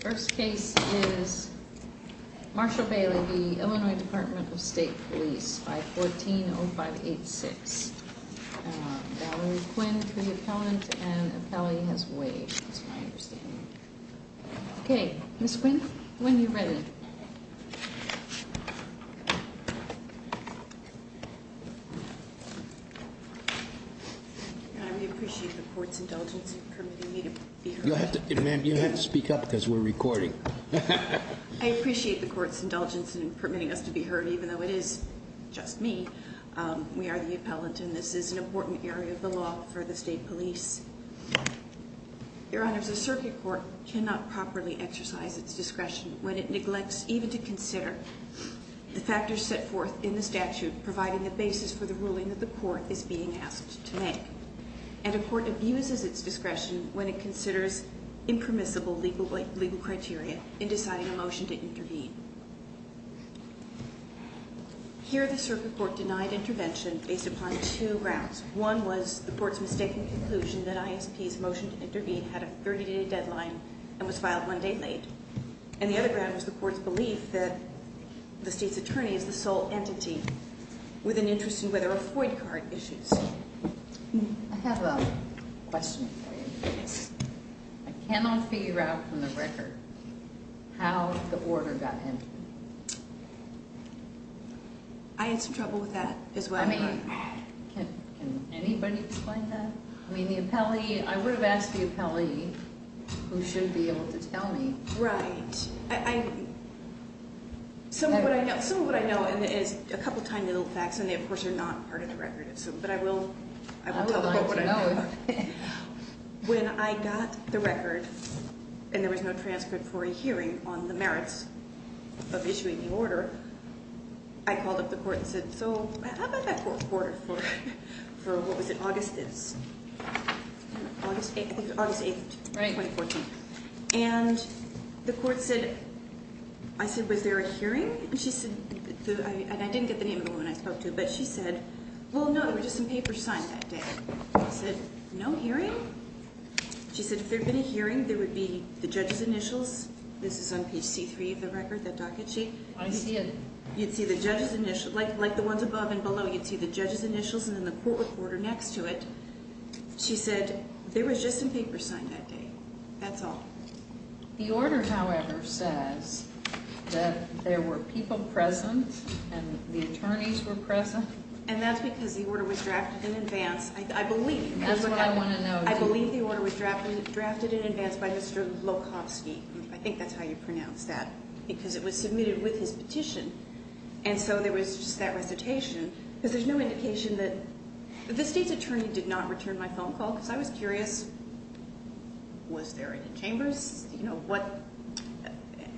First case is Marshall Bailey v. Illinois Department of State Police 514-0586 Valerie Quinn v. Appellant and Appellee has waived. That's my understanding. Okay, Ms. Quinn, when you're ready. Your Honor, we appreciate the court's indulgence in permitting me to be heard. You'll have to speak up because we're recording. I appreciate the court's indulgence in permitting us to be heard even though it is just me. We are the appellant and this is an important area of the law for the state police. Your Honor, the circuit court cannot properly exercise its discretion when it neglects even to consider the factors set forth in the statute providing the basis for the ruling that the court is being asked to make. And a court abuses its discretion when it considers impermissible legal criteria in deciding a motion to intervene. Here the circuit court denied intervention based upon two grounds. One was the court's mistaken conclusion that ISP's motion to intervene had a 30-day deadline and was filed one day late. And the other ground was the court's belief that the state's attorney is the sole entity with an interest in whether a void card issues. I have a question for you. I cannot figure out from the record how the order got entered. I had some trouble with that as well. Can anybody explain that? I mean the appellee, I would have asked the appellee who should be able to tell me. Right. Some of what I know is a couple tiny little facts and they of course are not part of the record. But I will tell the court what I know. When I got the record and there was no transcript for a hearing on the merits of issuing the order, I called up the court and said, so how about that court order for, what was it, August 8th, 2014. And the court said, I said, was there a hearing? And she said, and I didn't get the name of the woman I spoke to, but she said, well, no, there were just some papers signed that day. I said, no hearing? She said if there had been a hearing, there would be the judge's initials. This is on page C3 of the record, that docket sheet. I see it. You'd see the judge's initials, like the ones above and below, you'd see the judge's initials and then the court recorder next to it. She said there was just some papers signed that day. That's all. The order, however, says that there were people present and the attorneys were present. And that's because the order was drafted in advance, I believe. That's what I want to know too. I believe the order was drafted in advance by Mr. Lokofsky. I think that's how you pronounce that. Because it was submitted with his petition. And so there was just that recitation. Because there's no indication that the state's attorney did not return my phone call. Because I was curious, was there any chambers?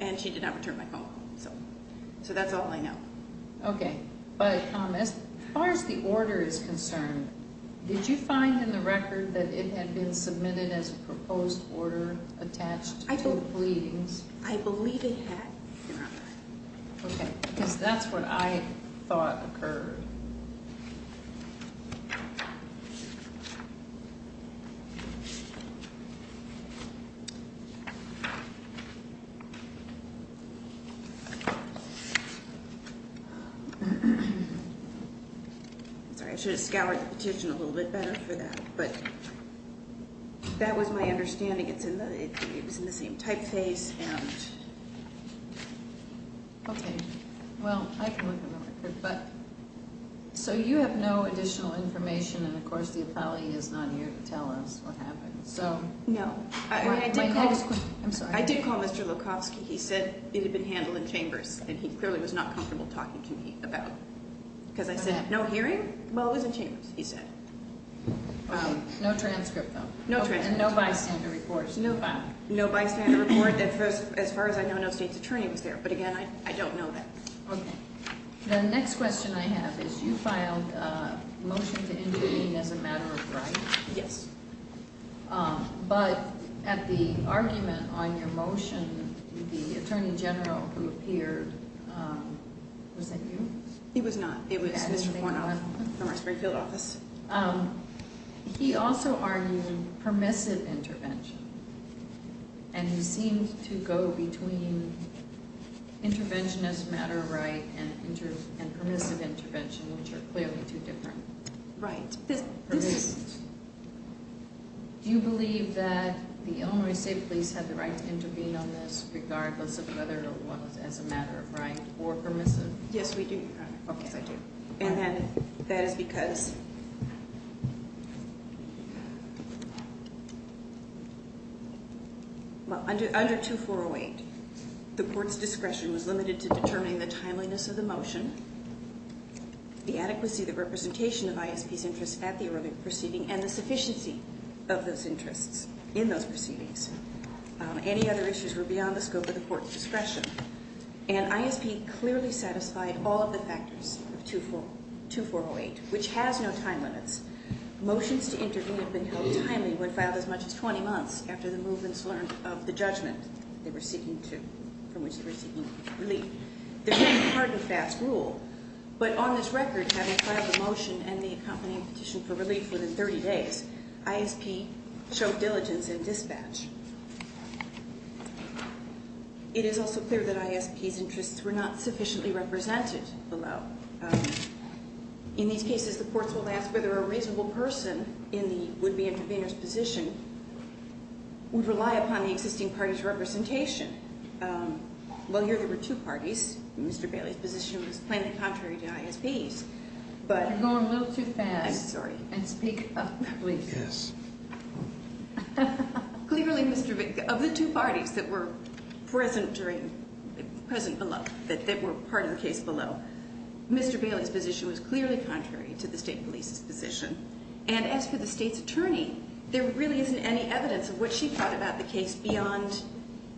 And she did not return my phone call. So that's all I know. Okay. But as far as the order is concerned, did you find in the record that it had been submitted as a proposed order attached to pleadings? I believe it had. Okay. Because that's what I thought occurred. I'm sorry. I should have scoured the petition a little bit better for that. But that was my understanding. It was in the same typeface. Okay. Well, I can look at the record. So you have no additional information. And, of course, the appellee is not here to tell us what happened. No. I did call Mr. Lokofsky. He said it had been handled in chambers. And he clearly was not comfortable talking to me about it. Because I said, no hearing? Well, it was in chambers, he said. Okay. No transcript, though. No transcript. And no bystander reports. No bystander report. As far as I know, no state's attorney was there. But, again, I don't know that. Okay. The next question I have is you filed a motion to intervene as a matter of right? Yes. But at the argument on your motion, the attorney general who appeared, was that you? It was not. It was Mr. Kornoff from our Springfield office. He also argued permissive intervention. And he seemed to go between interventionist matter of right and permissive intervention, which are clearly two different permissions. Do you believe that the Illinois State Police had the right to intervene on this, regardless of whether it was as a matter of right or permissive? Yes, we do. Yes, I do. And that is because under 2408, the court's discretion was limited to determining the timeliness of the motion, the adequacy of the representation of ISP's interests at the early proceeding, and the sufficiency of those interests in those proceedings. Any other issues were beyond the scope of the court's discretion. And ISP clearly satisfied all of the factors of 2408, which has no time limits. Motions to intervene have been held timely when filed as much as 20 months after the movements learned of the judgment they were seeking to, from which they were seeking relief. There's no hard and fast rule. But on this record, having filed the motion and the accompanying petition for relief within 30 days, ISP showed diligence in dispatch. It is also clear that ISP's interests were not sufficiently represented below. In these cases, the courts will ask whether a reasonable person in the would-be intervener's position would rely upon the existing party's representation. Well, here there were two parties. Mr. Bailey's position was plainly contrary to ISP's. You're going a little too fast. I'm sorry. And speak up, please. Yes. Clearly, Mr. Bailey, of the two parties that were present below, that were part of the case below, Mr. Bailey's position was clearly contrary to the state police's position. And as for the state's attorney, there really isn't any evidence of what she thought about the case beyond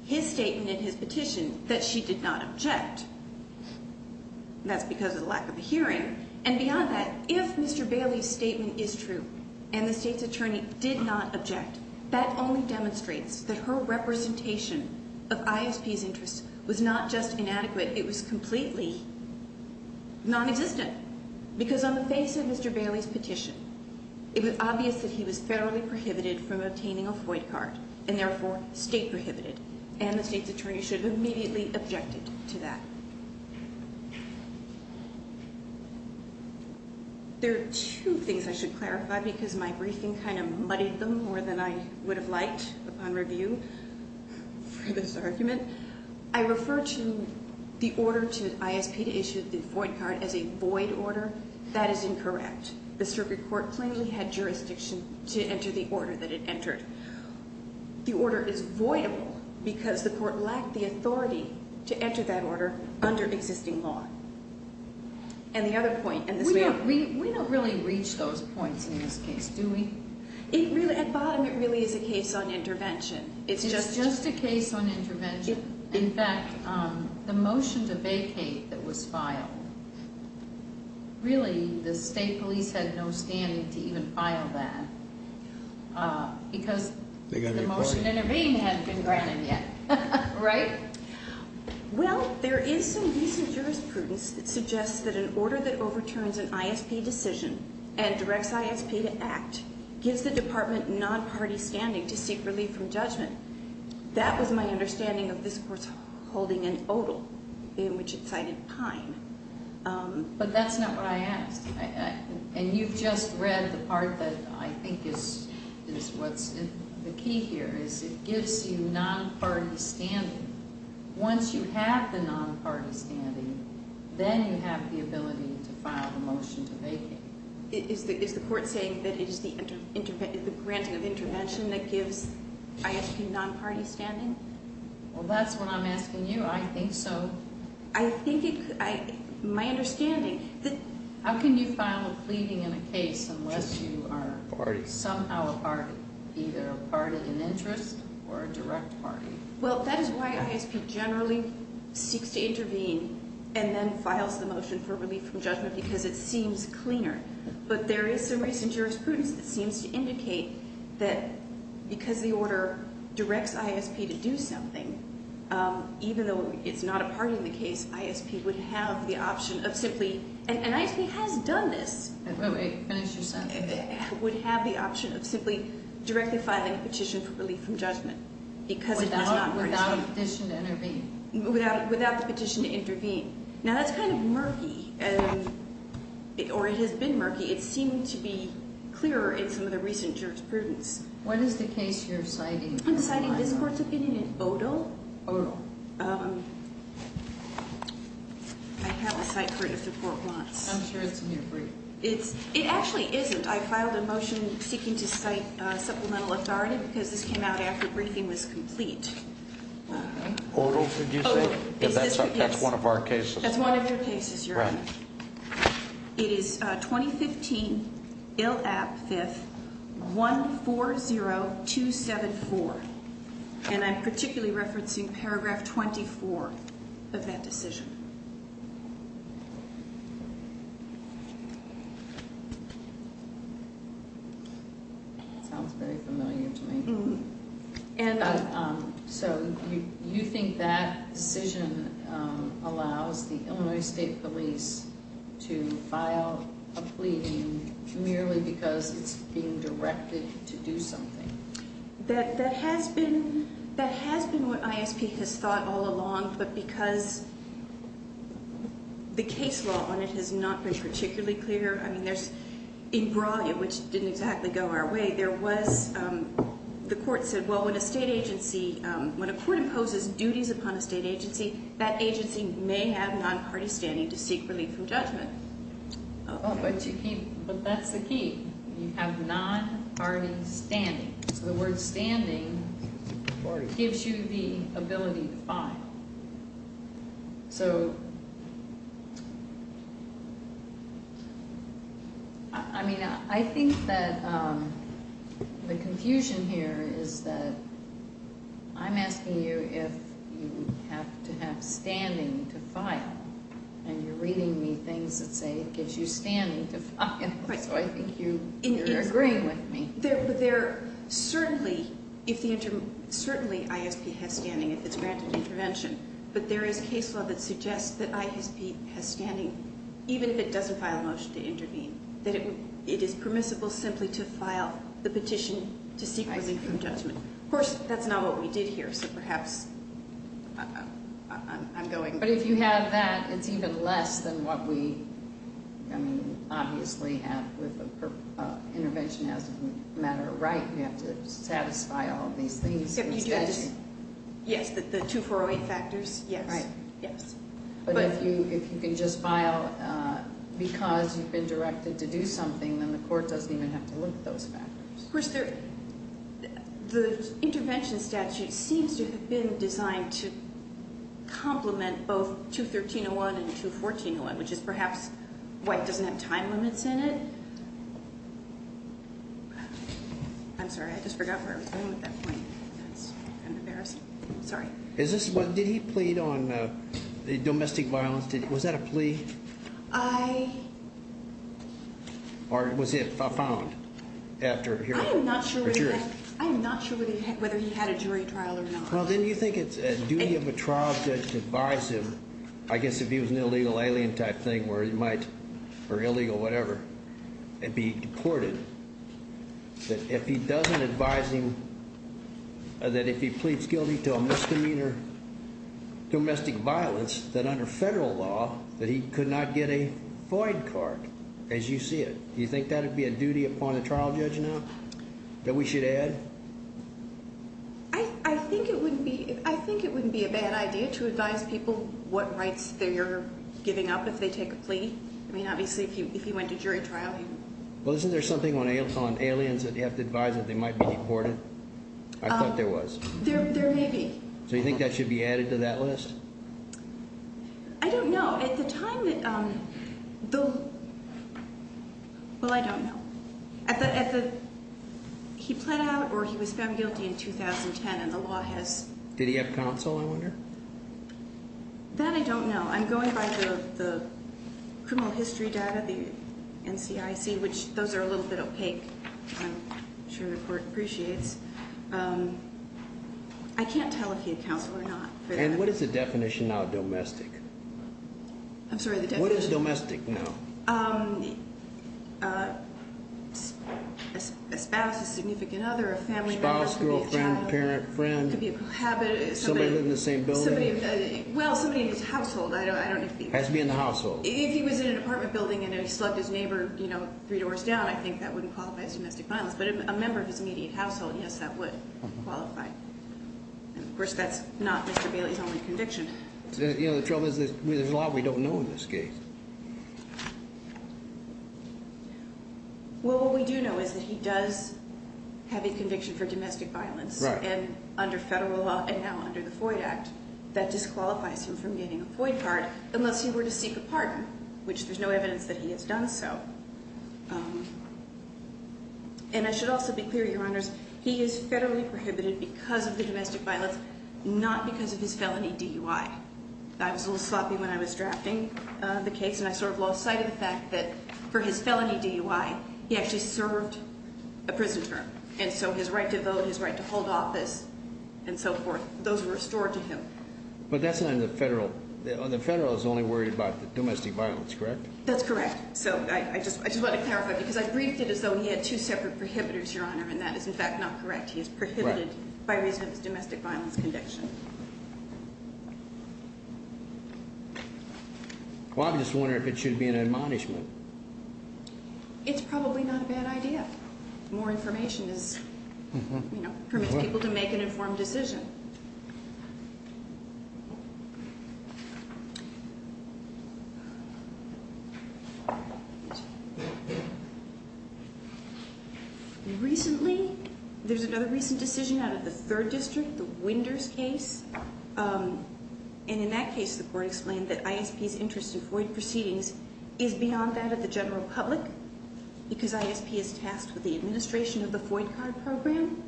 his statement in his petition that she did not object. That's because of the lack of a hearing. And beyond that, if Mr. Bailey's statement is true and the state's attorney did not object, that only demonstrates that her representation of ISP's interests was not just inadequate. It was completely non-existent. Because on the face of Mr. Bailey's petition, it was obvious that he was federally prohibited from obtaining a FOID card and therefore state prohibited. And the state's attorney should have immediately objected to that. There are two things I should clarify because my briefing kind of muddied them more than I would have liked upon review for this argument. I refer to the order to ISP to issue the FOID card as a void order. That is incorrect. The circuit court plainly had jurisdiction to enter the order that it entered. The order is voidable because the court lacked the authority to enter that order under existing law. We don't really reach those points in this case, do we? At bottom, it really is a case on intervention. It's just a case on intervention. In fact, the motion to vacate that was filed, really the state police had no standing to even file that because the motion to intervene hadn't been granted yet. Right? Well, there is some recent jurisprudence that suggests that an order that overturns an ISP decision and directs ISP to act gives the department non-party standing to seek relief from judgment. That was my understanding of this court's holding in Odal, in which it cited Pine. But that's not what I asked. And you've just read the part that I think is what's in the key here, is it gives you non-party standing. Once you have the non-party standing, then you have the ability to file the motion to vacate. Is the court saying that it is the granting of intervention that gives ISP non-party standing? Well, that's what I'm asking you. I think so. I think it could. My understanding, the – How can you file a pleading in a case unless you are somehow a party, either a party in interest or a direct party? Well, that is why ISP generally seeks to intervene and then files the motion for relief from judgment because it seems cleaner. But there is some recent jurisprudence that seems to indicate that because the order directs ISP to do something, even though it's not a party in the case, ISP would have the option of simply – and ISP has done this. Wait, wait, finish your sentence. Would have the option of simply directly filing a petition for relief from judgment because it was not a party. Without the petition to intervene. Without the petition to intervene. Now, that's kind of murky, or it has been murky. It seemed to be clearer in some of the recent jurisprudence. What is the case you're citing? I'm citing this court's opinion in Odo. Odo. I have a cite for it if the court wants. I'm sure it's in here for you. It actually isn't. I filed a motion seeking to cite supplemental authority because this came out after briefing was complete. Odo, did you say? Yes. That's one of our cases. That's one of your cases, Your Honor. Right. It is 2015 ILAP 5th 140274, and I'm particularly referencing paragraph 24 of that decision. Sounds very familiar to me. So you think that decision allows the Illinois State Police to file a plea merely because it's being directed to do something? That has been what ISP has thought all along, but because the case law on it has not been particularly clear. I mean, in Brawley, which didn't exactly go our way, the court said, well, when a state agency, when a court imposes duties upon a state agency, that agency may have non-party standing to seek relief from judgment. Oh, but that's the key. You have non-party standing. So the word standing gives you the ability to file. So, I mean, I think that the confusion here is that I'm asking you if you have to have standing to file, and you're reading me things that say it gives you standing to file. So I think you're agreeing with me. Certainly ISP has standing if it's granted intervention, but there is case law that suggests that ISP has standing, even if it doesn't file a motion to intervene, that it is permissible simply to file the petition to seek relief from judgment. Of course, that's not what we did here, so perhaps I'm going. But if you have that, it's even less than what we, I mean, obviously have with intervention as a matter of right. You have to satisfy all of these things. Yes, the 2408 factors, yes. But if you can just file because you've been directed to do something, then the court doesn't even have to look at those factors. Of course, the intervention statute seems to have been designed to complement both 213-01 and 214-01, which is perhaps why it doesn't have time limits in it. I'm sorry. I just forgot where I was going at that point. I'm embarrassed. Sorry. Did he plead on domestic violence? Was that a plea? I... Or was it found after hearing? I'm not sure whether he had a jury trial or not. Well, then you think it's a duty of a trial judge to advise him, I guess if he was an illegal alien type thing where he might, or illegal, whatever, and be deported, that if he doesn't advise him that if he pleads guilty to a misdemeanor, domestic violence, that under federal law that he could not get a void card as you see it. Do you think that would be a duty upon a trial judge now that we should add? I think it wouldn't be a bad idea to advise people what rights they're giving up if they take a plea. I mean, obviously, if he went to jury trial, he would. Well, isn't there something on aliens that you have to advise that they might be deported? I thought there was. There may be. So you think that should be added to that list? I don't know. At the time that the... Well, I don't know. He pled out or he was found guilty in 2010, and the law has... Did he have counsel, I wonder? That I don't know. I'm going by the criminal history data, the NCIC, which those are a little bit opaque. I'm sure the court appreciates. I can't tell if he had counsel or not. And what is the definition now of domestic? I'm sorry, the definition? What is domestic now? A spouse, a significant other, a family member. Spouse, girlfriend, parent, friend. Could be a cohabitant. Somebody living in the same building. Well, somebody in his household. Has to be in the household. If he was in an apartment building and he slugged his neighbor three doors down, I think that wouldn't qualify as domestic violence. But a member of his immediate household, yes, that would qualify. And, of course, that's not Mr. Bailey's only conviction. You know, the trouble is there's a lot we don't know in this case. Well, what we do know is that he does have a conviction for domestic violence. Right. And under federal law and now under the Floyd Act, that disqualifies him from getting a Floyd card unless he were to seek a pardon, which there's no evidence that he has done so. And I should also be clear, Your Honors, he is federally prohibited because of the domestic violence, not because of his felony DUI. I was a little sloppy when I was drafting the case and I sort of lost sight of the fact that for his felony DUI, he actually served a prison term. And so his right to vote, his right to hold office and so forth, those were restored to him. But that's not in the federal. The federal is only worried about the domestic violence, correct? That's correct. So I just want to clarify because I briefed it as though he had two separate prohibitors, Your Honor, and that is, in fact, not correct. He is prohibited by reason of his domestic violence conviction. Well, I'm just wondering if it should be an admonishment. It's probably not a bad idea. More information is, you know, permits people to make an informed decision. Recently, there's another recent decision out of the third district, the Winders case. And in that case, the court explained that ISP's interest in FOID proceedings is beyond that of the general public because ISP is tasked with the administration of the FOID card program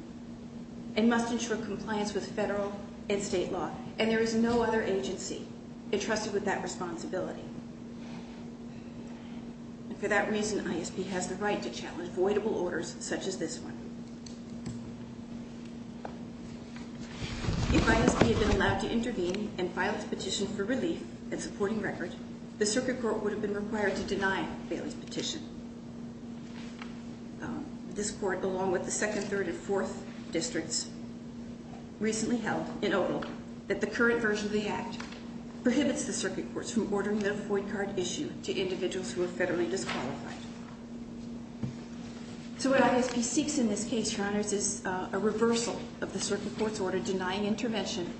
and must ensure compliance with federal and state law. And there is no other agency entrusted with that responsibility. And for that reason, ISP has the right to challenge voidable orders such as this one. If ISP had been allowed to intervene and file its petition for relief and supporting record, the circuit court would have been required to deny Bailey's petition. This court, along with the second, third, and fourth districts, recently held in Oval that the current version of the act prohibits the circuit courts from ordering the FOID card issue to individuals who are federally disqualified. So what ISP seeks in this case, Your Honors, is a reversal of the circuit court's order denying intervention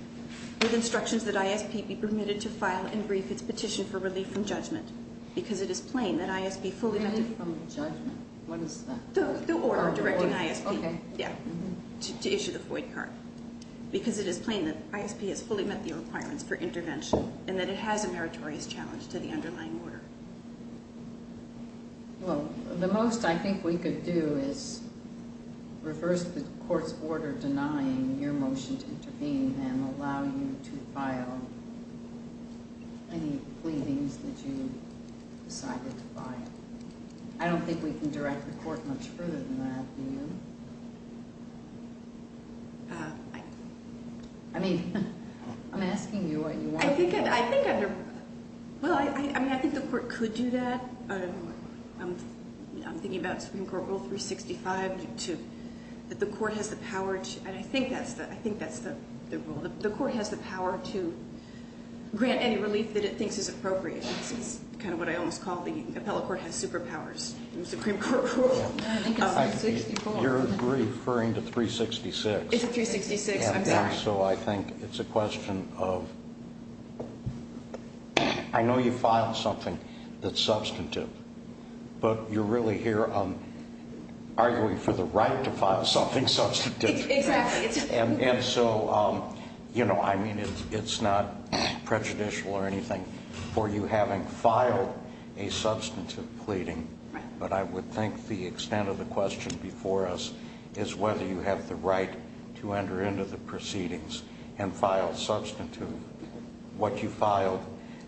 with instructions that ISP be permitted to file and brief its petition for relief from judgment because it is plain that ISP fully met the requirements for intervention and that it has a meritorious challenge to the underlying order. Well, the most I think we could do is reverse the court's order denying your motion to intervene and allow you to file any pleadings that you decided to file. I don't think we can direct the court much further than that, do you? I mean, I'm asking you what you want to do. Well, I mean, I think the court could do that. I'm thinking about Supreme Court Rule 365, that the court has the power to, and I think that's the rule, the court has the power to grant any relief that it thinks is appropriate. It's kind of what I always call the appellate court has superpowers in the Supreme Court rule. I think it's 364. You're referring to 366. It's 366, I'm back. So I think it's a question of, I know you filed something that's substantive, but you're really here arguing for the right to file something substantive. Exactly. And so, you know, I mean, it's not prejudicial or anything for you having filed a substantive pleading, but I would think the extent of the question before us is whether you have the right to enter into the proceedings and file substantive, what you filed,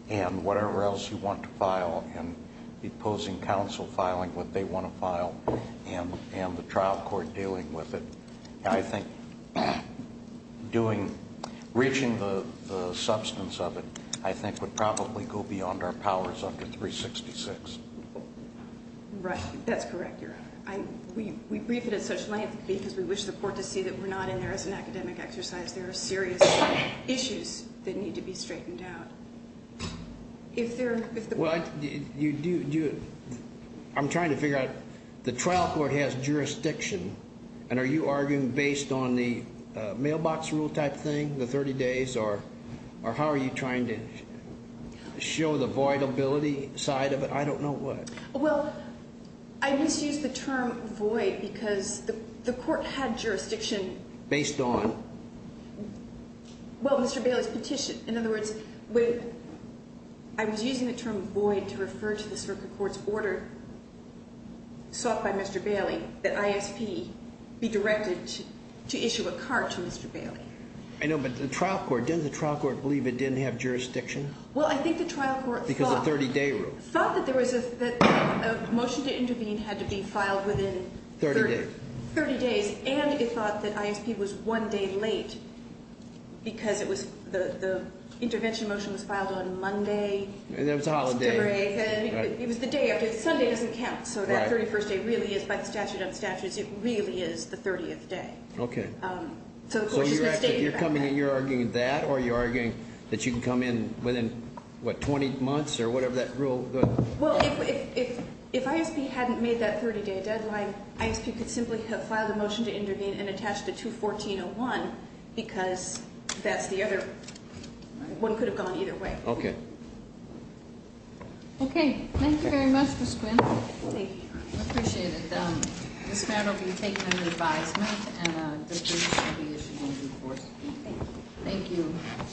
and whatever else you want to file, and imposing counsel filing what they want to file, and the trial court dealing with it. I think doing, reaching the substance of it, I think would probably go beyond our powers under 366. Right, that's correct, Your Honor. We brief it at such length because we wish the court to see that we're not in there as an academic exercise. There are serious issues that need to be straightened out. Well, I'm trying to figure out, the trial court has jurisdiction, and are you arguing based on the mailbox rule type thing, the 30 days, or how are you trying to show the voidability side of it? I don't know what. Well, I misused the term void because the court had jurisdiction. Based on? Well, Mr. Bailey's petition. In other words, I was using the term void to refer to the circuit court's order sought by Mr. Bailey that ISP be directed to issue a card to Mr. Bailey. I know, but the trial court, didn't the trial court believe it didn't have jurisdiction? Well, I think the trial court thought that there was a motion to intervene had to be filed within 30 days. And it thought that ISP was one day late because the intervention motion was filed on Monday. And then it was a holiday. It was the day after. Sunday doesn't count. So that 31st day really is, by the statute of statutes, it really is the 30th day. Okay. So the court just misstated that. So you're arguing that or you're arguing that you can come in within, what, 20 months or whatever that rule? Well, if ISP hadn't made that 30-day deadline, ISP could simply have filed a motion to intervene and attached it to 1401 because that's the other, one could have gone either way. Okay. Okay. Thank you very much, Ms. Quinn. Thank you. I appreciate it. This matter will be taken under advisement and the case should be issued in due course. Thank you. Thank you.